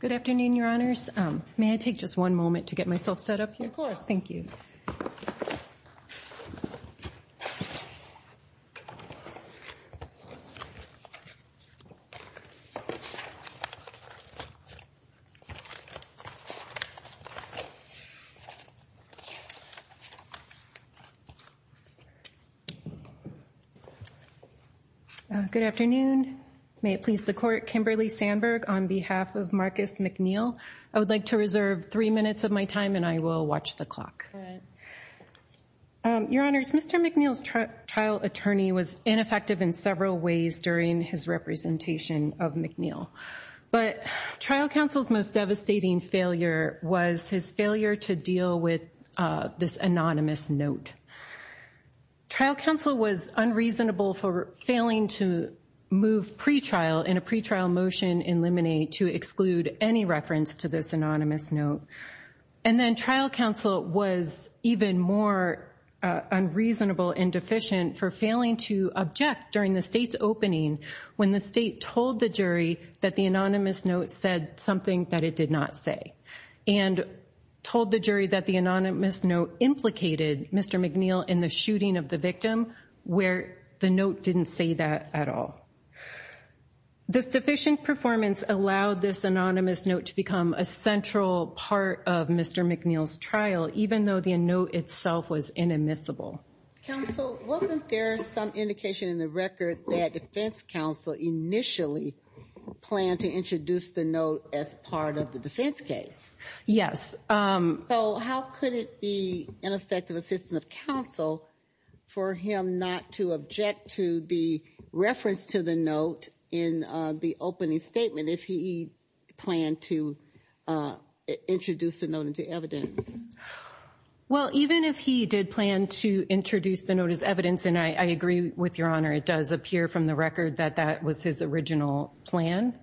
Good afternoon, your honors. May I take just one moment to get myself set up here? Of course. Thank you. Good afternoon. May it please the court, Kimberly Sandberg, on behalf of Marcus McNeal, I would like to reserve three minutes of my time and I will watch the clock. Your honors, Mr. McNeal's trial attorney was ineffective in several ways during his representation of McNeal. But trial counsel's most devastating failure was his failure to deal with this anonymous note. Trial counsel was unreasonable for failing to move pretrial in a pretrial motion in Lemonade to exclude any reference to this anonymous note. And then trial counsel was even more unreasonable and deficient for failing to object during the state's opening when the state told the jury that the anonymous note said something that it did not say. And told the jury that the anonymous note implicated Mr. McNeal in the shooting of the victim, where the note didn't say that at all. This deficient performance allowed this anonymous note to become a central part of Mr. McNeal's trial, even though the note itself was inadmissible. Counsel, wasn't there some indication in the record that defense counsel initially planned to introduce the note as part of the defense case? Yes. So how could it be ineffective assistance of counsel for him not to object to the reference to the note in the opening statement if he planned to introduce the note into evidence? Well, even if he did plan to introduce the note as evidence, and I agree with Your Honor, it does appear from the record that that was his original plan.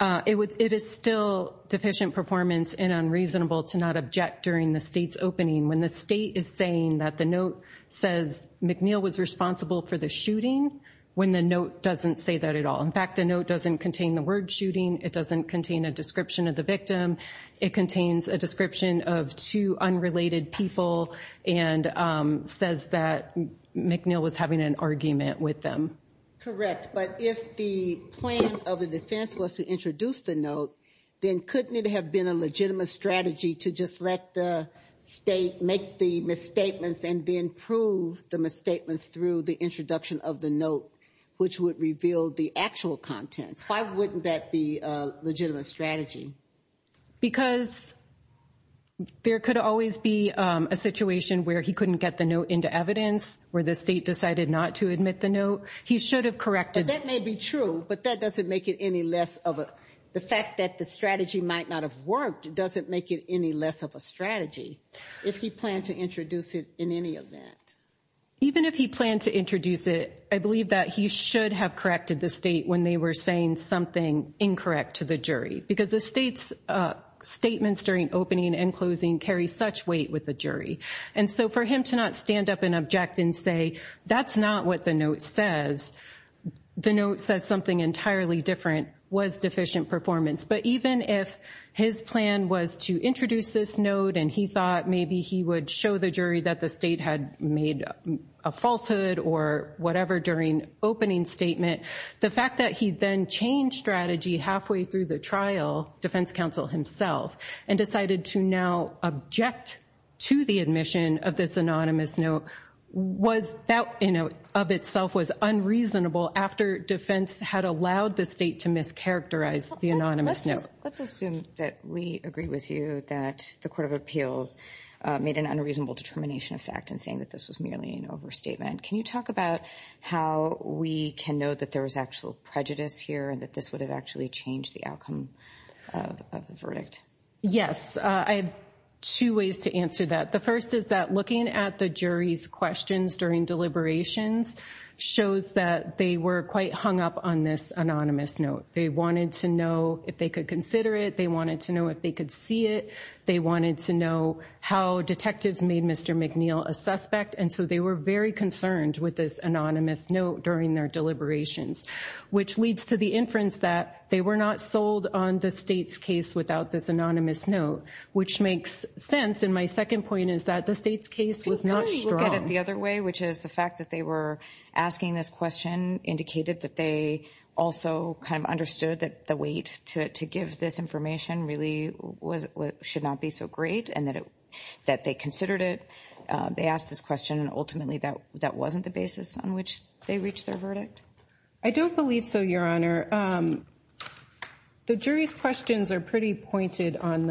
It is still deficient performance and unreasonable to not object during the state's opening when the state is saying that the note says McNeal was responsible for the shooting when the note doesn't say that at all. In fact, the note doesn't contain the word shooting. It doesn't contain a description of the victim. It contains a description of two unrelated people and says that McNeal was having an argument with them. Correct. But if the plan of the defense was to introduce the note, then couldn't it have been a legitimate strategy to just let the state make the misstatements and then prove the misstatements through the introduction of the note, which would reveal the actual contents? Why wouldn't that be a legitimate strategy? Because there could always be a situation where he couldn't get the note into evidence, where the state decided not to admit the note. He should have corrected. That may be true, but that doesn't make it any less of the fact that the strategy might not have worked doesn't make it any less of a strategy if he planned to introduce it in any event. Even if he planned to introduce it, I believe that he should have corrected the state when they were saying something incorrect to the jury because the state's statements during opening and closing carry such weight with the jury. And so for him to not stand up and object and say that's not what the note says, the note says something entirely different was deficient performance. But even if his plan was to introduce this note and he thought maybe he would show the jury that the state had made a falsehood or whatever during opening statement. The fact that he then changed strategy halfway through the trial, defense counsel himself, and decided to now object to the admission of this anonymous note, that in and of itself was unreasonable after defense had allowed the state to mischaracterize the anonymous note. Let's assume that we agree with you that the Court of Appeals made an unreasonable determination of fact in saying that this was merely an overstatement. Can you talk about how we can know that there was actual prejudice here and that this would have actually changed the outcome of the verdict? Yes, I have two ways to answer that. The first is that looking at the jury's questions during deliberations shows that they were quite hung up on this anonymous note. They wanted to know if they could consider it. They wanted to know if they could see it. They wanted to know how detectives made Mr. McNeil a suspect. And so they were very concerned with this anonymous note during their deliberations, which leads to the inference that they were not sold on the state's case without this anonymous note, which makes sense. And my second point is that the state's case was not strong. Let's look at it the other way, which is the fact that they were asking this question indicated that they also kind of understood that the weight to give this information really should not be so great and that they considered it. They asked this question. Ultimately, that wasn't the basis on which they reached their verdict. I don't believe so, Your Honor. The jury's questions are pretty pointed on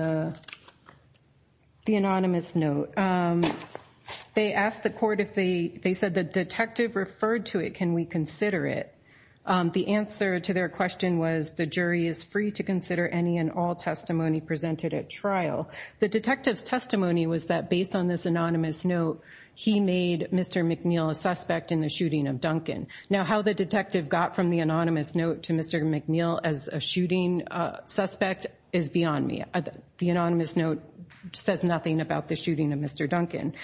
the anonymous note. They asked the court if they said the detective referred to it, can we consider it? The answer to their question was the jury is free to consider any and all testimony presented at trial. The detective's testimony was that based on this anonymous note, he made Mr. McNeil a suspect in the shooting of Duncan. Now, how the detective got from the anonymous note to Mr. McNeil as a shooting suspect is beyond me. The anonymous note says nothing about the shooting of Mr. Duncan.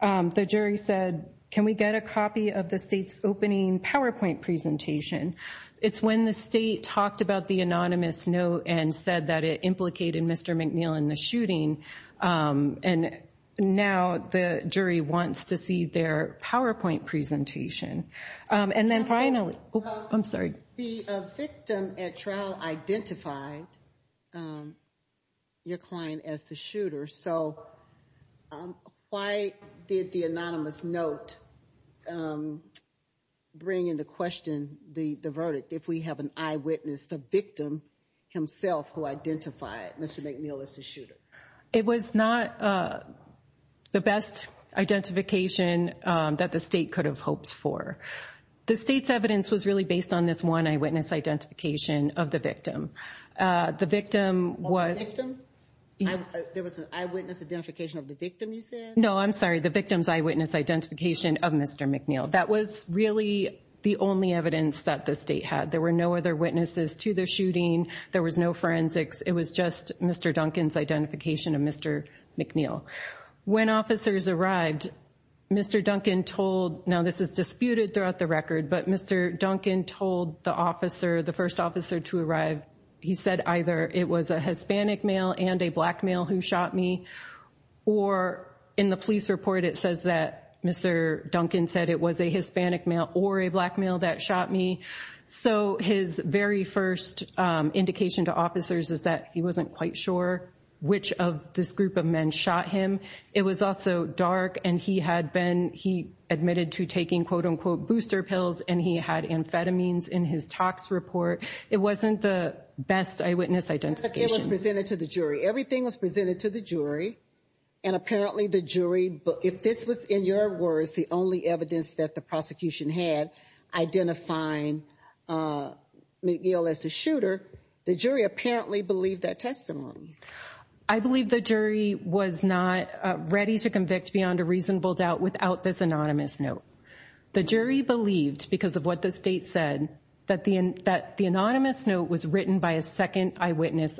The jury said, can we get a copy of the state's opening PowerPoint presentation? It's when the state talked about the anonymous note and said that it implicated Mr. McNeil in the shooting. And now the jury wants to see their PowerPoint presentation. And then finally, I'm sorry. The victim at trial identified your client as the shooter. So why did the anonymous note bring into question the verdict if we have an eyewitness, the victim himself, who identified Mr. McNeil as the shooter? It was not the best identification that the state could have hoped for. The state's evidence was really based on this one eyewitness identification of the victim. The victim was. There was an eyewitness identification of the victim, you said? No, I'm sorry. The victim's eyewitness identification of Mr. McNeil. That was really the only evidence that the state had. There were no other witnesses to the shooting. There was no forensics. It was just Mr. Duncan's identification of Mr. McNeil. When officers arrived, Mr. Duncan told, now this is disputed throughout the record, but Mr. Duncan told the officer, the first officer to arrive, he said either it was a Hispanic male and a black male who shot me. Or in the police report, it says that Mr. Duncan said it was a Hispanic male or a black male that shot me. So his very first indication to officers is that he wasn't quite sure which of this group of men shot him. It was also dark and he had been, he admitted to taking quote unquote booster pills and he had amphetamines in his tox report. It wasn't the best eyewitness identification. It was presented to the jury. Everything was presented to the jury. And apparently the jury, if this was in your words, the only evidence that the prosecution had identifying McNeil as the shooter, the jury apparently believed that testimony. I believe the jury was not ready to convict beyond a reasonable doubt without this anonymous note. The jury believed because of what the state said that the anonymous note was written by a second eyewitness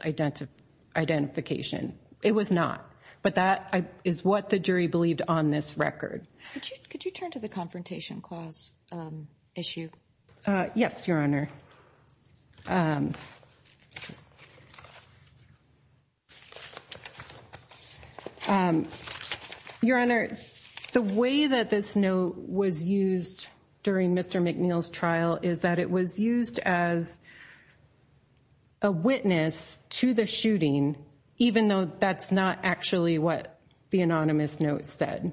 identification. It was not. But that is what the jury believed on this record. Could you turn to the confrontation clause issue? Yes, Your Honor. Your Honor, the way that this note was used during Mr. McNeil's trial is that it was used as a witness to the shooting, even though that's not actually what the anonymous note said.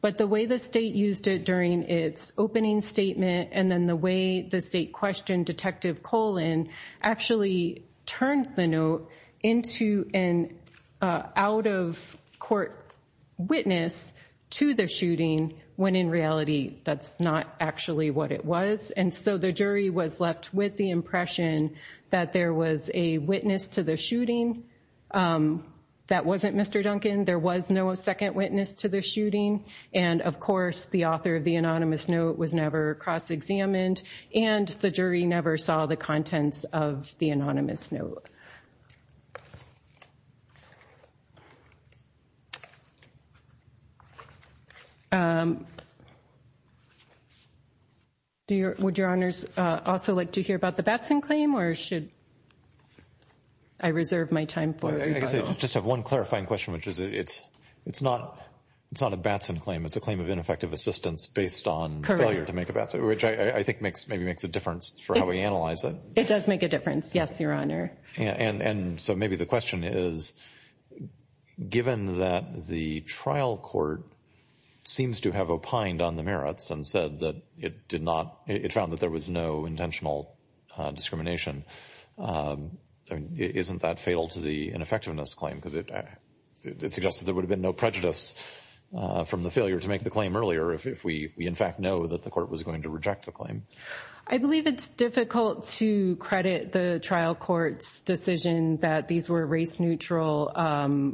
But the way the state used it during its opening statement and then the way the state questioned detective colon actually turned the note into an out of court witness to the shooting when in reality, that's not actually what it was. And so the jury was left with the impression that there was a witness to the shooting that wasn't Mr. Duncan. There was no second witness to the shooting. And of course, the author of the anonymous note was never cross examined and the jury never saw the contents of the anonymous note. Would Your Honors also like to hear about the Batson claim or should I reserve my time for it? I just have one clarifying question, which is it's it's not it's not a Batson claim. It's a claim of ineffective assistance based on failure to make a Batson, which I think makes maybe makes a difference for how we analyze it. It does make a difference. Yes, Your Honor. And so maybe the question is, given that the trial court seems to have opined on the merits and said that it did not it found that there was no intentional discrimination. Isn't that fatal to the ineffectiveness claim? Because it suggests that there would have been no prejudice from the failure to make the claim earlier if we in fact know that the court was going to reject the claim. I believe it's difficult to credit the trial court's decision that these were race neutral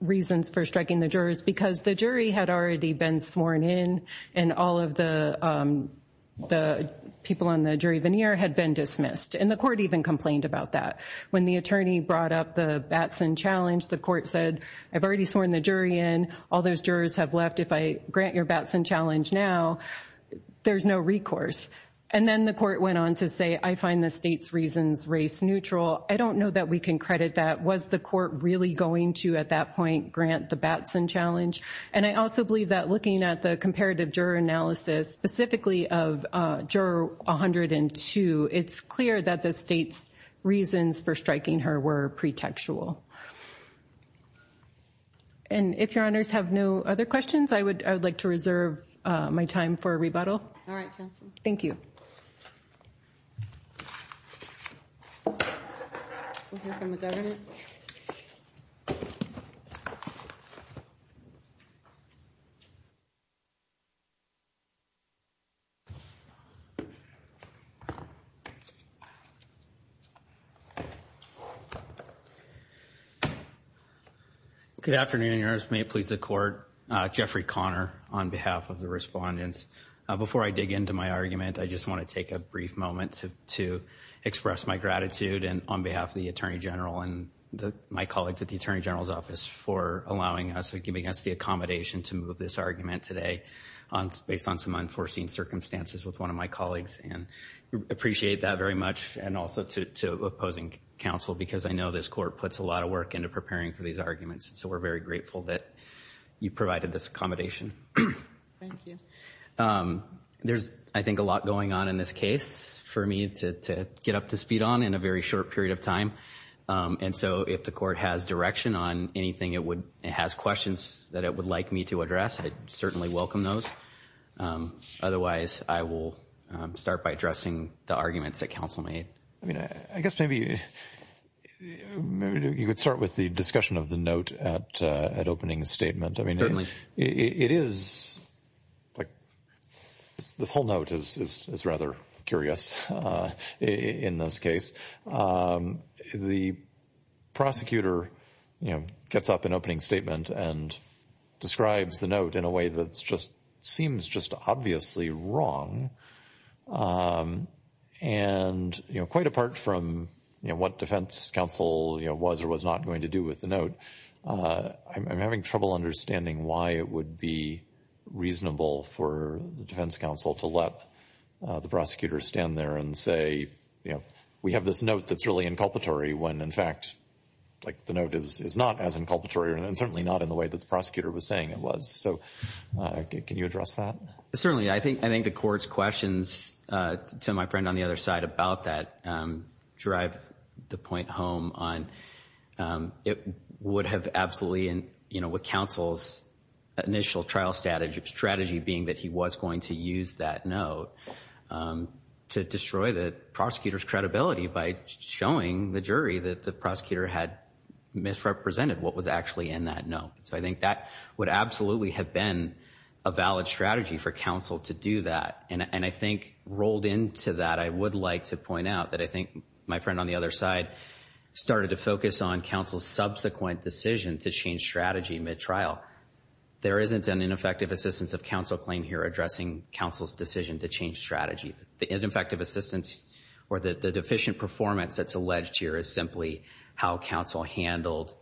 reasons for striking the jurors because the jury had already been sworn in. And all of the the people on the jury veneer had been dismissed. And the court even complained about that. When the attorney brought up the Batson challenge, the court said, I've already sworn the jury in. All those jurors have left. If I grant your Batson challenge now, there's no recourse. And then the court went on to say, I find the state's reasons race neutral. I don't know that we can credit that. Was the court really going to at that point grant the Batson challenge? And I also believe that looking at the comparative juror analysis, specifically of juror 102, it's clear that the state's reasons for striking her were pretextual. And if your honors have no other questions, I would like to reserve my time for a rebuttal. All right. Thank you. We'll hear from the governor. Good afternoon, Your Honor. May it please the court. Jeffrey Conner on behalf of the respondents. Before I dig into my argument, I just want to take a brief moment to express my gratitude on behalf of the attorney general and my colleagues at the attorney general's office for allowing us, giving us the accommodation to move this argument today based on some unforeseen circumstances with one of my colleagues. And appreciate that very much. And also to opposing counsel, because I know this court puts a lot of work into preparing for these arguments. So we're very grateful that you provided this accommodation. Thank you. There's, I think, a lot going on in this case for me to get up to speed on in a very short period of time. And so if the court has direction on anything it has questions that it would like me to address, I'd certainly welcome those. Otherwise, I will start by addressing the arguments that counsel made. I mean, I guess maybe you could start with the discussion of the note at opening statement. Certainly. It is like this whole note is rather curious in this case. The prosecutor, you know, gets up in opening statement and describes the note in a way that's just seems just obviously wrong. And, you know, quite apart from what defense counsel was or was not going to do with the note. I'm having trouble understanding why it would be reasonable for the defense counsel to let the prosecutor stand there and say, you know, we have this note that's really inculpatory when, in fact, like the note is not as inculpatory and certainly not in the way that the prosecutor was saying it was. So can you address that? Certainly. I think the court's questions to my friend on the other side about that drive the point home on it would have absolutely, you know, with counsel's initial trial strategy being that he was going to use that note to destroy the prosecutor's credibility by showing the jury that the prosecutor had misrepresented what was actually in that note. So I think that would absolutely have been a valid strategy for counsel to do that. And I think rolled into that, I would like to point out that I think my friend on the other side started to focus on counsel's subsequent decision to change strategy mid-trial. There isn't an ineffective assistance of counsel claim here addressing counsel's decision to change strategy. The ineffective assistance or the deficient performance that's alleged here is simply how counsel handled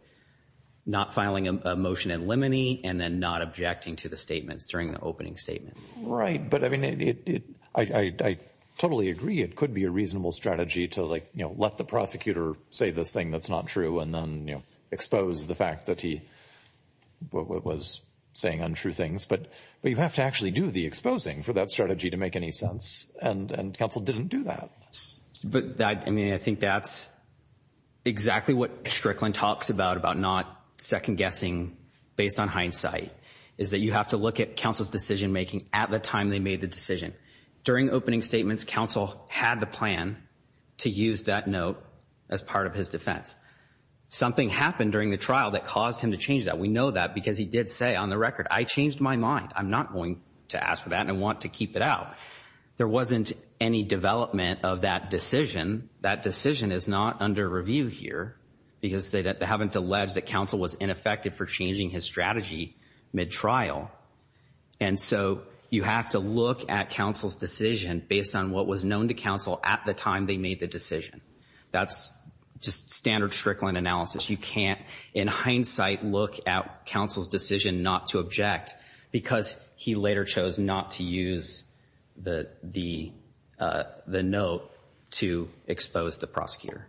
not filing a motion in limine and then not objecting to the statements during the opening statements. Right. But I mean, I totally agree it could be a reasonable strategy to let the prosecutor say this thing that's not true and then expose the fact that he was saying untrue things. But you have to actually do the exposing for that strategy to make any sense. And counsel didn't do that. But I mean, I think that's exactly what Strickland talks about, about not second guessing based on hindsight, is that you have to look at counsel's decision making at the time they made the decision. During opening statements, counsel had the plan to use that note as part of his defense. Something happened during the trial that caused him to change that. We know that because he did say on the record, I changed my mind. I'm not going to ask for that and I want to keep it out. There wasn't any development of that decision. That decision is not under review here because they haven't alleged that counsel was ineffective for changing his strategy mid-trial. And so you have to look at counsel's decision based on what was known to counsel at the time they made the decision. That's just standard Strickland analysis. You can't in hindsight look at counsel's decision not to object because he later chose not to use the note to expose the prosecutor.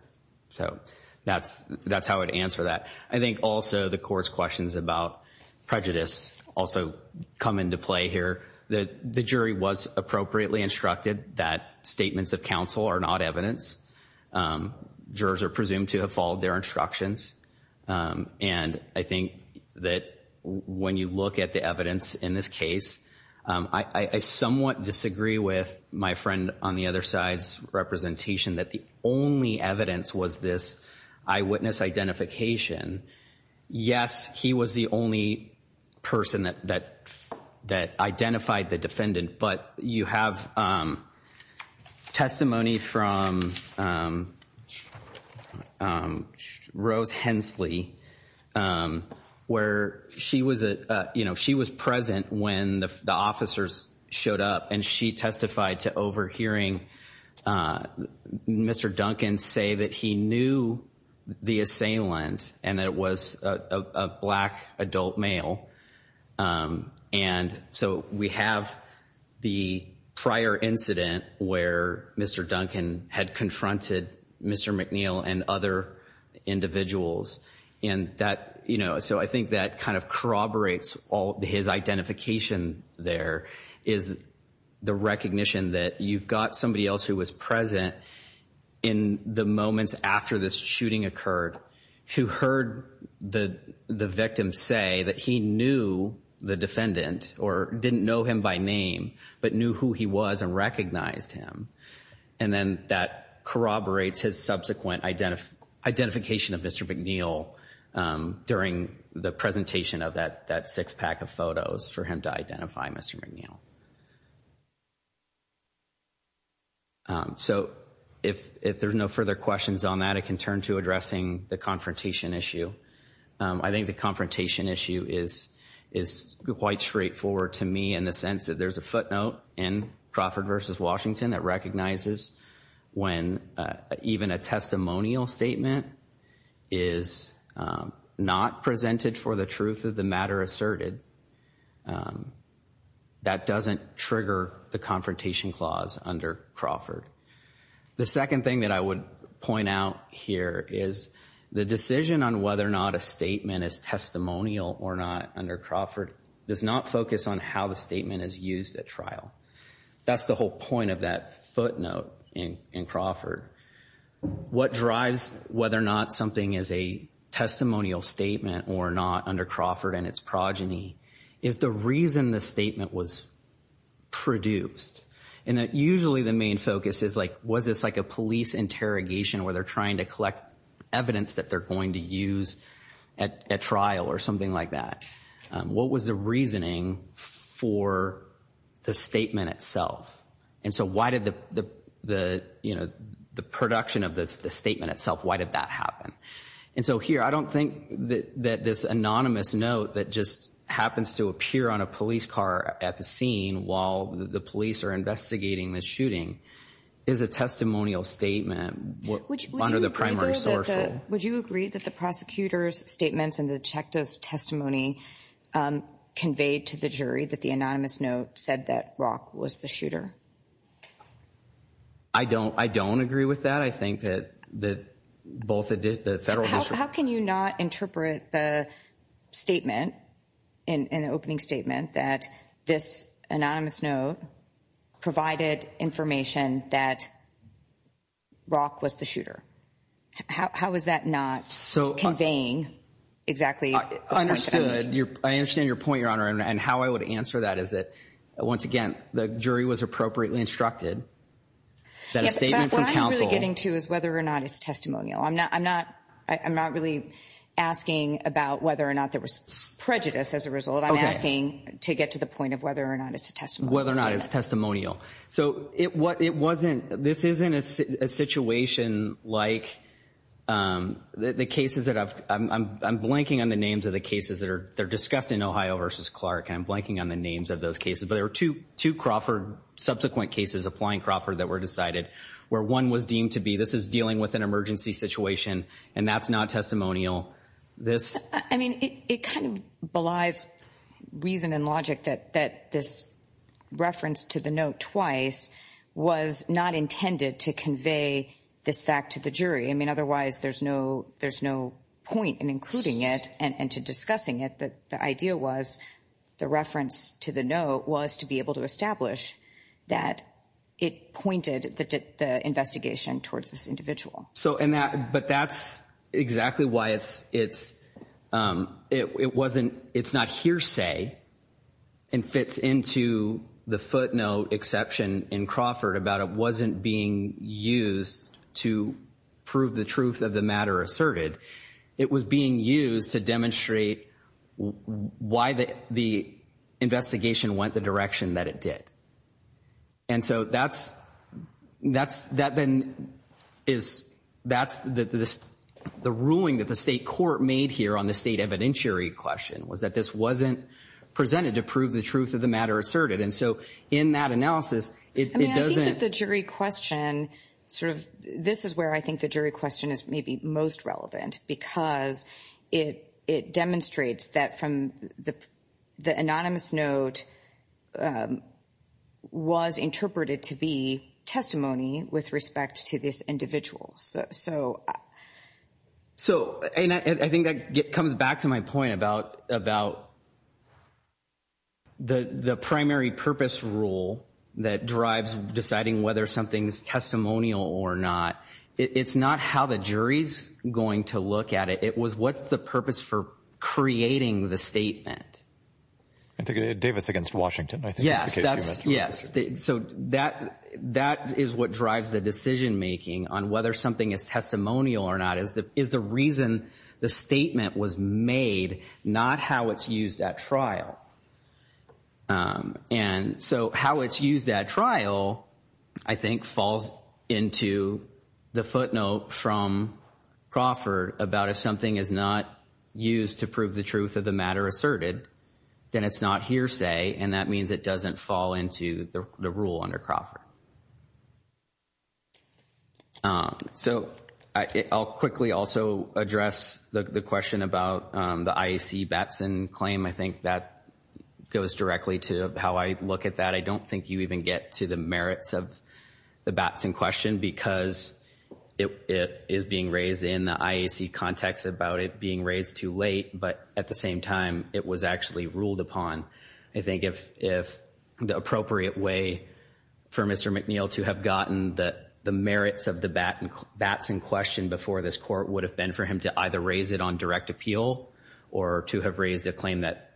So that's how I would answer that. I think also the court's questions about prejudice also come into play here. The jury was appropriately instructed that statements of counsel are not evidence. Jurors are presumed to have followed their instructions. And I think that when you look at the evidence in this case, I somewhat disagree with my friend on the other side's representation that the only evidence was this eyewitness identification. Yes, he was the only person that identified the defendant. But you have testimony from Rose Hensley where she was present when the officers showed up. And she testified to overhearing Mr. Duncan say that he knew the assailant and that it was a black adult male. And so we have the prior incident where Mr. Duncan had confronted Mr. McNeil and other individuals. And that, you know, so I think that kind of corroborates all his identification there, is the recognition that you've got somebody else who was present in the moments after this shooting occurred who heard the victim say that he knew the defendant or didn't know him by name but knew who he was and recognized him. And then that corroborates his subsequent identification of Mr. McNeil during the presentation of that six pack of photos for him to identify Mr. McNeil. So if there's no further questions on that, I can turn to addressing the confrontation issue. I think the confrontation issue is quite straightforward to me in the sense that there's a footnote in Crawford v. Washington that recognizes when even a testimonial statement is not presented for the truth of the matter asserted, that doesn't trigger the confrontation clause under Crawford. The second thing that I would point out here is the decision on whether or not a statement is testimonial or not under Crawford does not focus on how the statement is used at trial. That's the whole point of that footnote in Crawford. What drives whether or not something is a testimonial statement or not under Crawford and its progeny is the reason the statement was produced. And usually the main focus is like was this like a police interrogation where they're trying to collect evidence that they're going to use at trial or something like that. What was the reasoning for the statement itself? And so why did the production of the statement itself, why did that happen? And so here I don't think that this anonymous note that just happens to appear on a police car at the scene while the police are investigating the shooting is a testimonial statement under the primary source. Would you agree that the prosecutor's statements and the detective's testimony conveyed to the jury that the anonymous note said that Rock was the shooter? I don't. I don't agree with that. I think that that both the federal. How can you not interpret the statement in an opening statement that this anonymous note provided information that Rock was the shooter? How is that not so conveying exactly? I understood your I understand your point, Your Honor. And how I would answer that is that once again, the jury was appropriately instructed that a statement from counsel getting to is whether or not it's testimonial. I'm not I'm not I'm not really asking about whether or not there was prejudice as a result. I'm asking to get to the point of whether or not it's a testimony, whether or not it's testimonial. So it what it wasn't. This isn't a situation like the cases that I'm blanking on the names of the cases that are they're discussed in Ohio versus Clark. I'm blanking on the names of those cases. But there are two to Crawford subsequent cases applying Crawford that were decided where one was deemed to be. This is dealing with an emergency situation and that's not testimonial. I mean, it kind of belies reason and logic that that this reference to the note twice was not intended to convey this fact to the jury. I mean, otherwise, there's no there's no point in including it. And to discussing it, the idea was the reference to the note was to be able to establish that it pointed the investigation towards this individual. So and that but that's exactly why it's it's it wasn't it's not hearsay and fits into the footnote exception in Crawford about it wasn't being used to prove the truth of the matter asserted. It was being used to demonstrate why the investigation went the direction that it did. And so that's that's that then is that's the ruling that the state court made here on the state evidentiary question was that this wasn't presented to prove the truth of the matter asserted. And so in that analysis, it doesn't the jury question sort of this is where I think the jury question is maybe most relevant because it it demonstrates that from the anonymous note was interpreted to be testimony with respect to this individual. So so and I think that comes back to my point about about the the primary purpose rule that drives deciding whether something's testimonial or not. It's not how the jury's going to look at it. It was what's the purpose for creating the statement? I think Davis against Washington. Yes, that's yes. So that that is what drives the decision making on whether something is testimonial or not, is that is the reason the statement was made, not how it's used at trial. And so how it's used at trial, I think, falls into the footnote from Crawford about if something is not used to prove the truth of the matter asserted, then it's not hearsay. And that means it doesn't fall into the rule under Crawford. So I'll quickly also address the question about the IAC Batson claim. I think that goes directly to how I look at that. I don't think you even get to the merits of the Batson question because it is being raised in the IAC context about it being raised too late. But at the same time, it was actually ruled upon. I think if the appropriate way for Mr. McNeil to have gotten the merits of the Batson question before this court would have been for him to either raise it on direct appeal or to have raised a claim that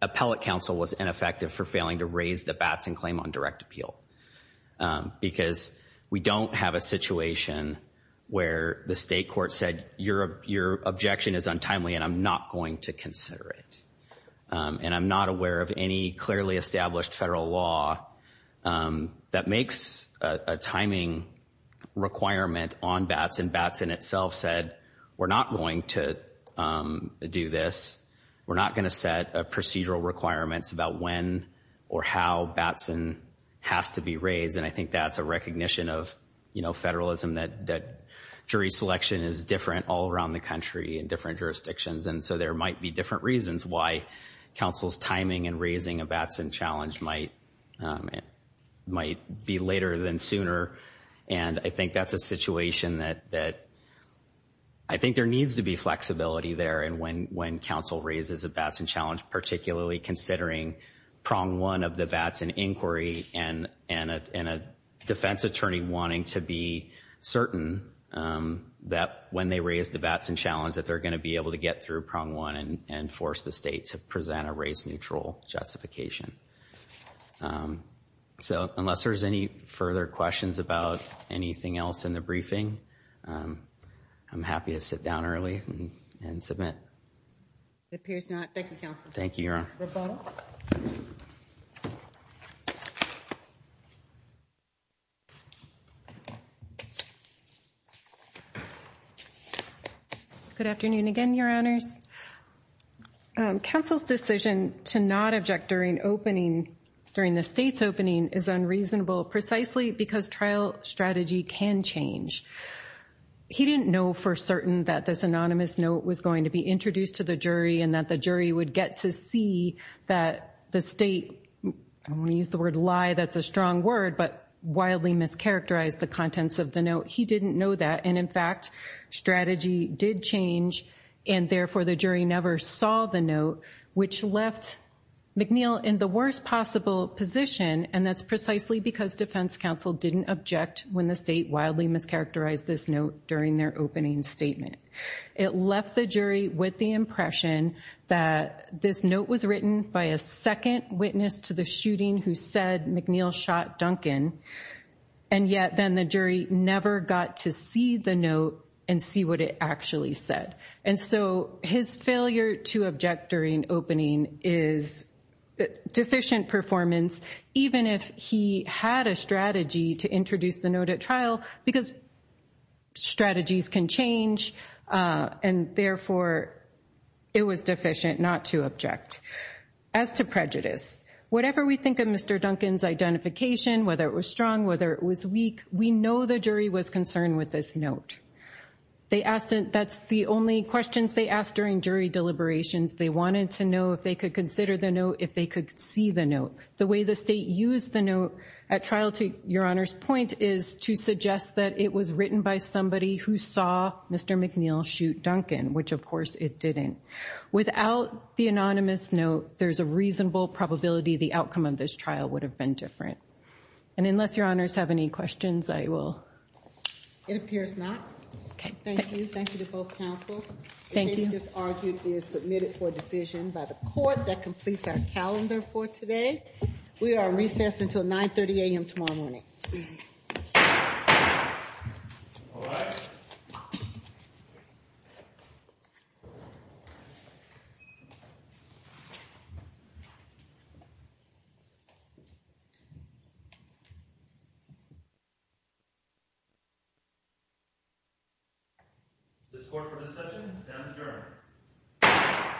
appellate counsel was ineffective for failing to raise the Batson claim on direct appeal. Because we don't have a situation where the state court said your objection is untimely and I'm not going to consider it. And I'm not aware of any clearly established federal law that makes a timing requirement on Batson. Batson itself said we're not going to do this. We're not going to set procedural requirements about when or how Batson has to be raised. And I think that's a recognition of, you know, federalism that jury selection is different all around the country in different jurisdictions. And so there might be different reasons why counsel's timing and raising a Batson challenge might be later than sooner. And I think that's a situation that I think there needs to be flexibility there. And when counsel raises a Batson challenge, particularly considering prong one of the Batson inquiry and a defense attorney wanting to be certain that when they raise the Batson challenge that they're going to be able to get through prong one and force the state to present a race neutral justification. So unless there's any further questions about anything else in the briefing, I'm happy to sit down early and submit. It appears not. Thank you, counsel. Thank you, Your Honor. Good afternoon again, Your Honors. Counsel's decision to not object during opening during the state's opening is unreasonable precisely because trial strategy can change. He didn't know for certain that this anonymous note was going to be introduced to the jury and that the jury would get to see that the state. We use the word lie. That's a strong word, but wildly mischaracterized the contents of the note. He didn't know that. And in fact, strategy did change. And therefore, the jury never saw the note, which left McNeil in the worst possible position. And that's precisely because defense counsel didn't object when the state wildly mischaracterized this note during their opening statement. It left the jury with the impression that this note was written by a second witness to the shooting who said McNeil shot Duncan. And yet then the jury never got to see the note and see what it actually said. And so his failure to object during opening is deficient performance, even if he had a strategy to introduce the note at trial because strategies can change. And therefore, it was deficient not to object. As to prejudice, whatever we think of Mr. Duncan's identification, whether it was strong, whether it was weak, we know the jury was concerned with this note. That's the only questions they asked during jury deliberations. They wanted to know if they could consider the note, if they could see the note. The way the state used the note at trial, to Your Honor's point, is to suggest that it was written by somebody who saw Mr. McNeil shoot Duncan, which of course it didn't. Without the anonymous note, there's a reasonable probability the outcome of this trial would have been different. And unless Your Honors have any questions, I will. It appears not. Thank you. Thank you to both counsel. Thank you. The case you just argued is submitted for decision by the court. That completes our calendar for today. We are recessed until 930 a.m. tomorrow morning. All right. Is this court for recession? It's now adjourned.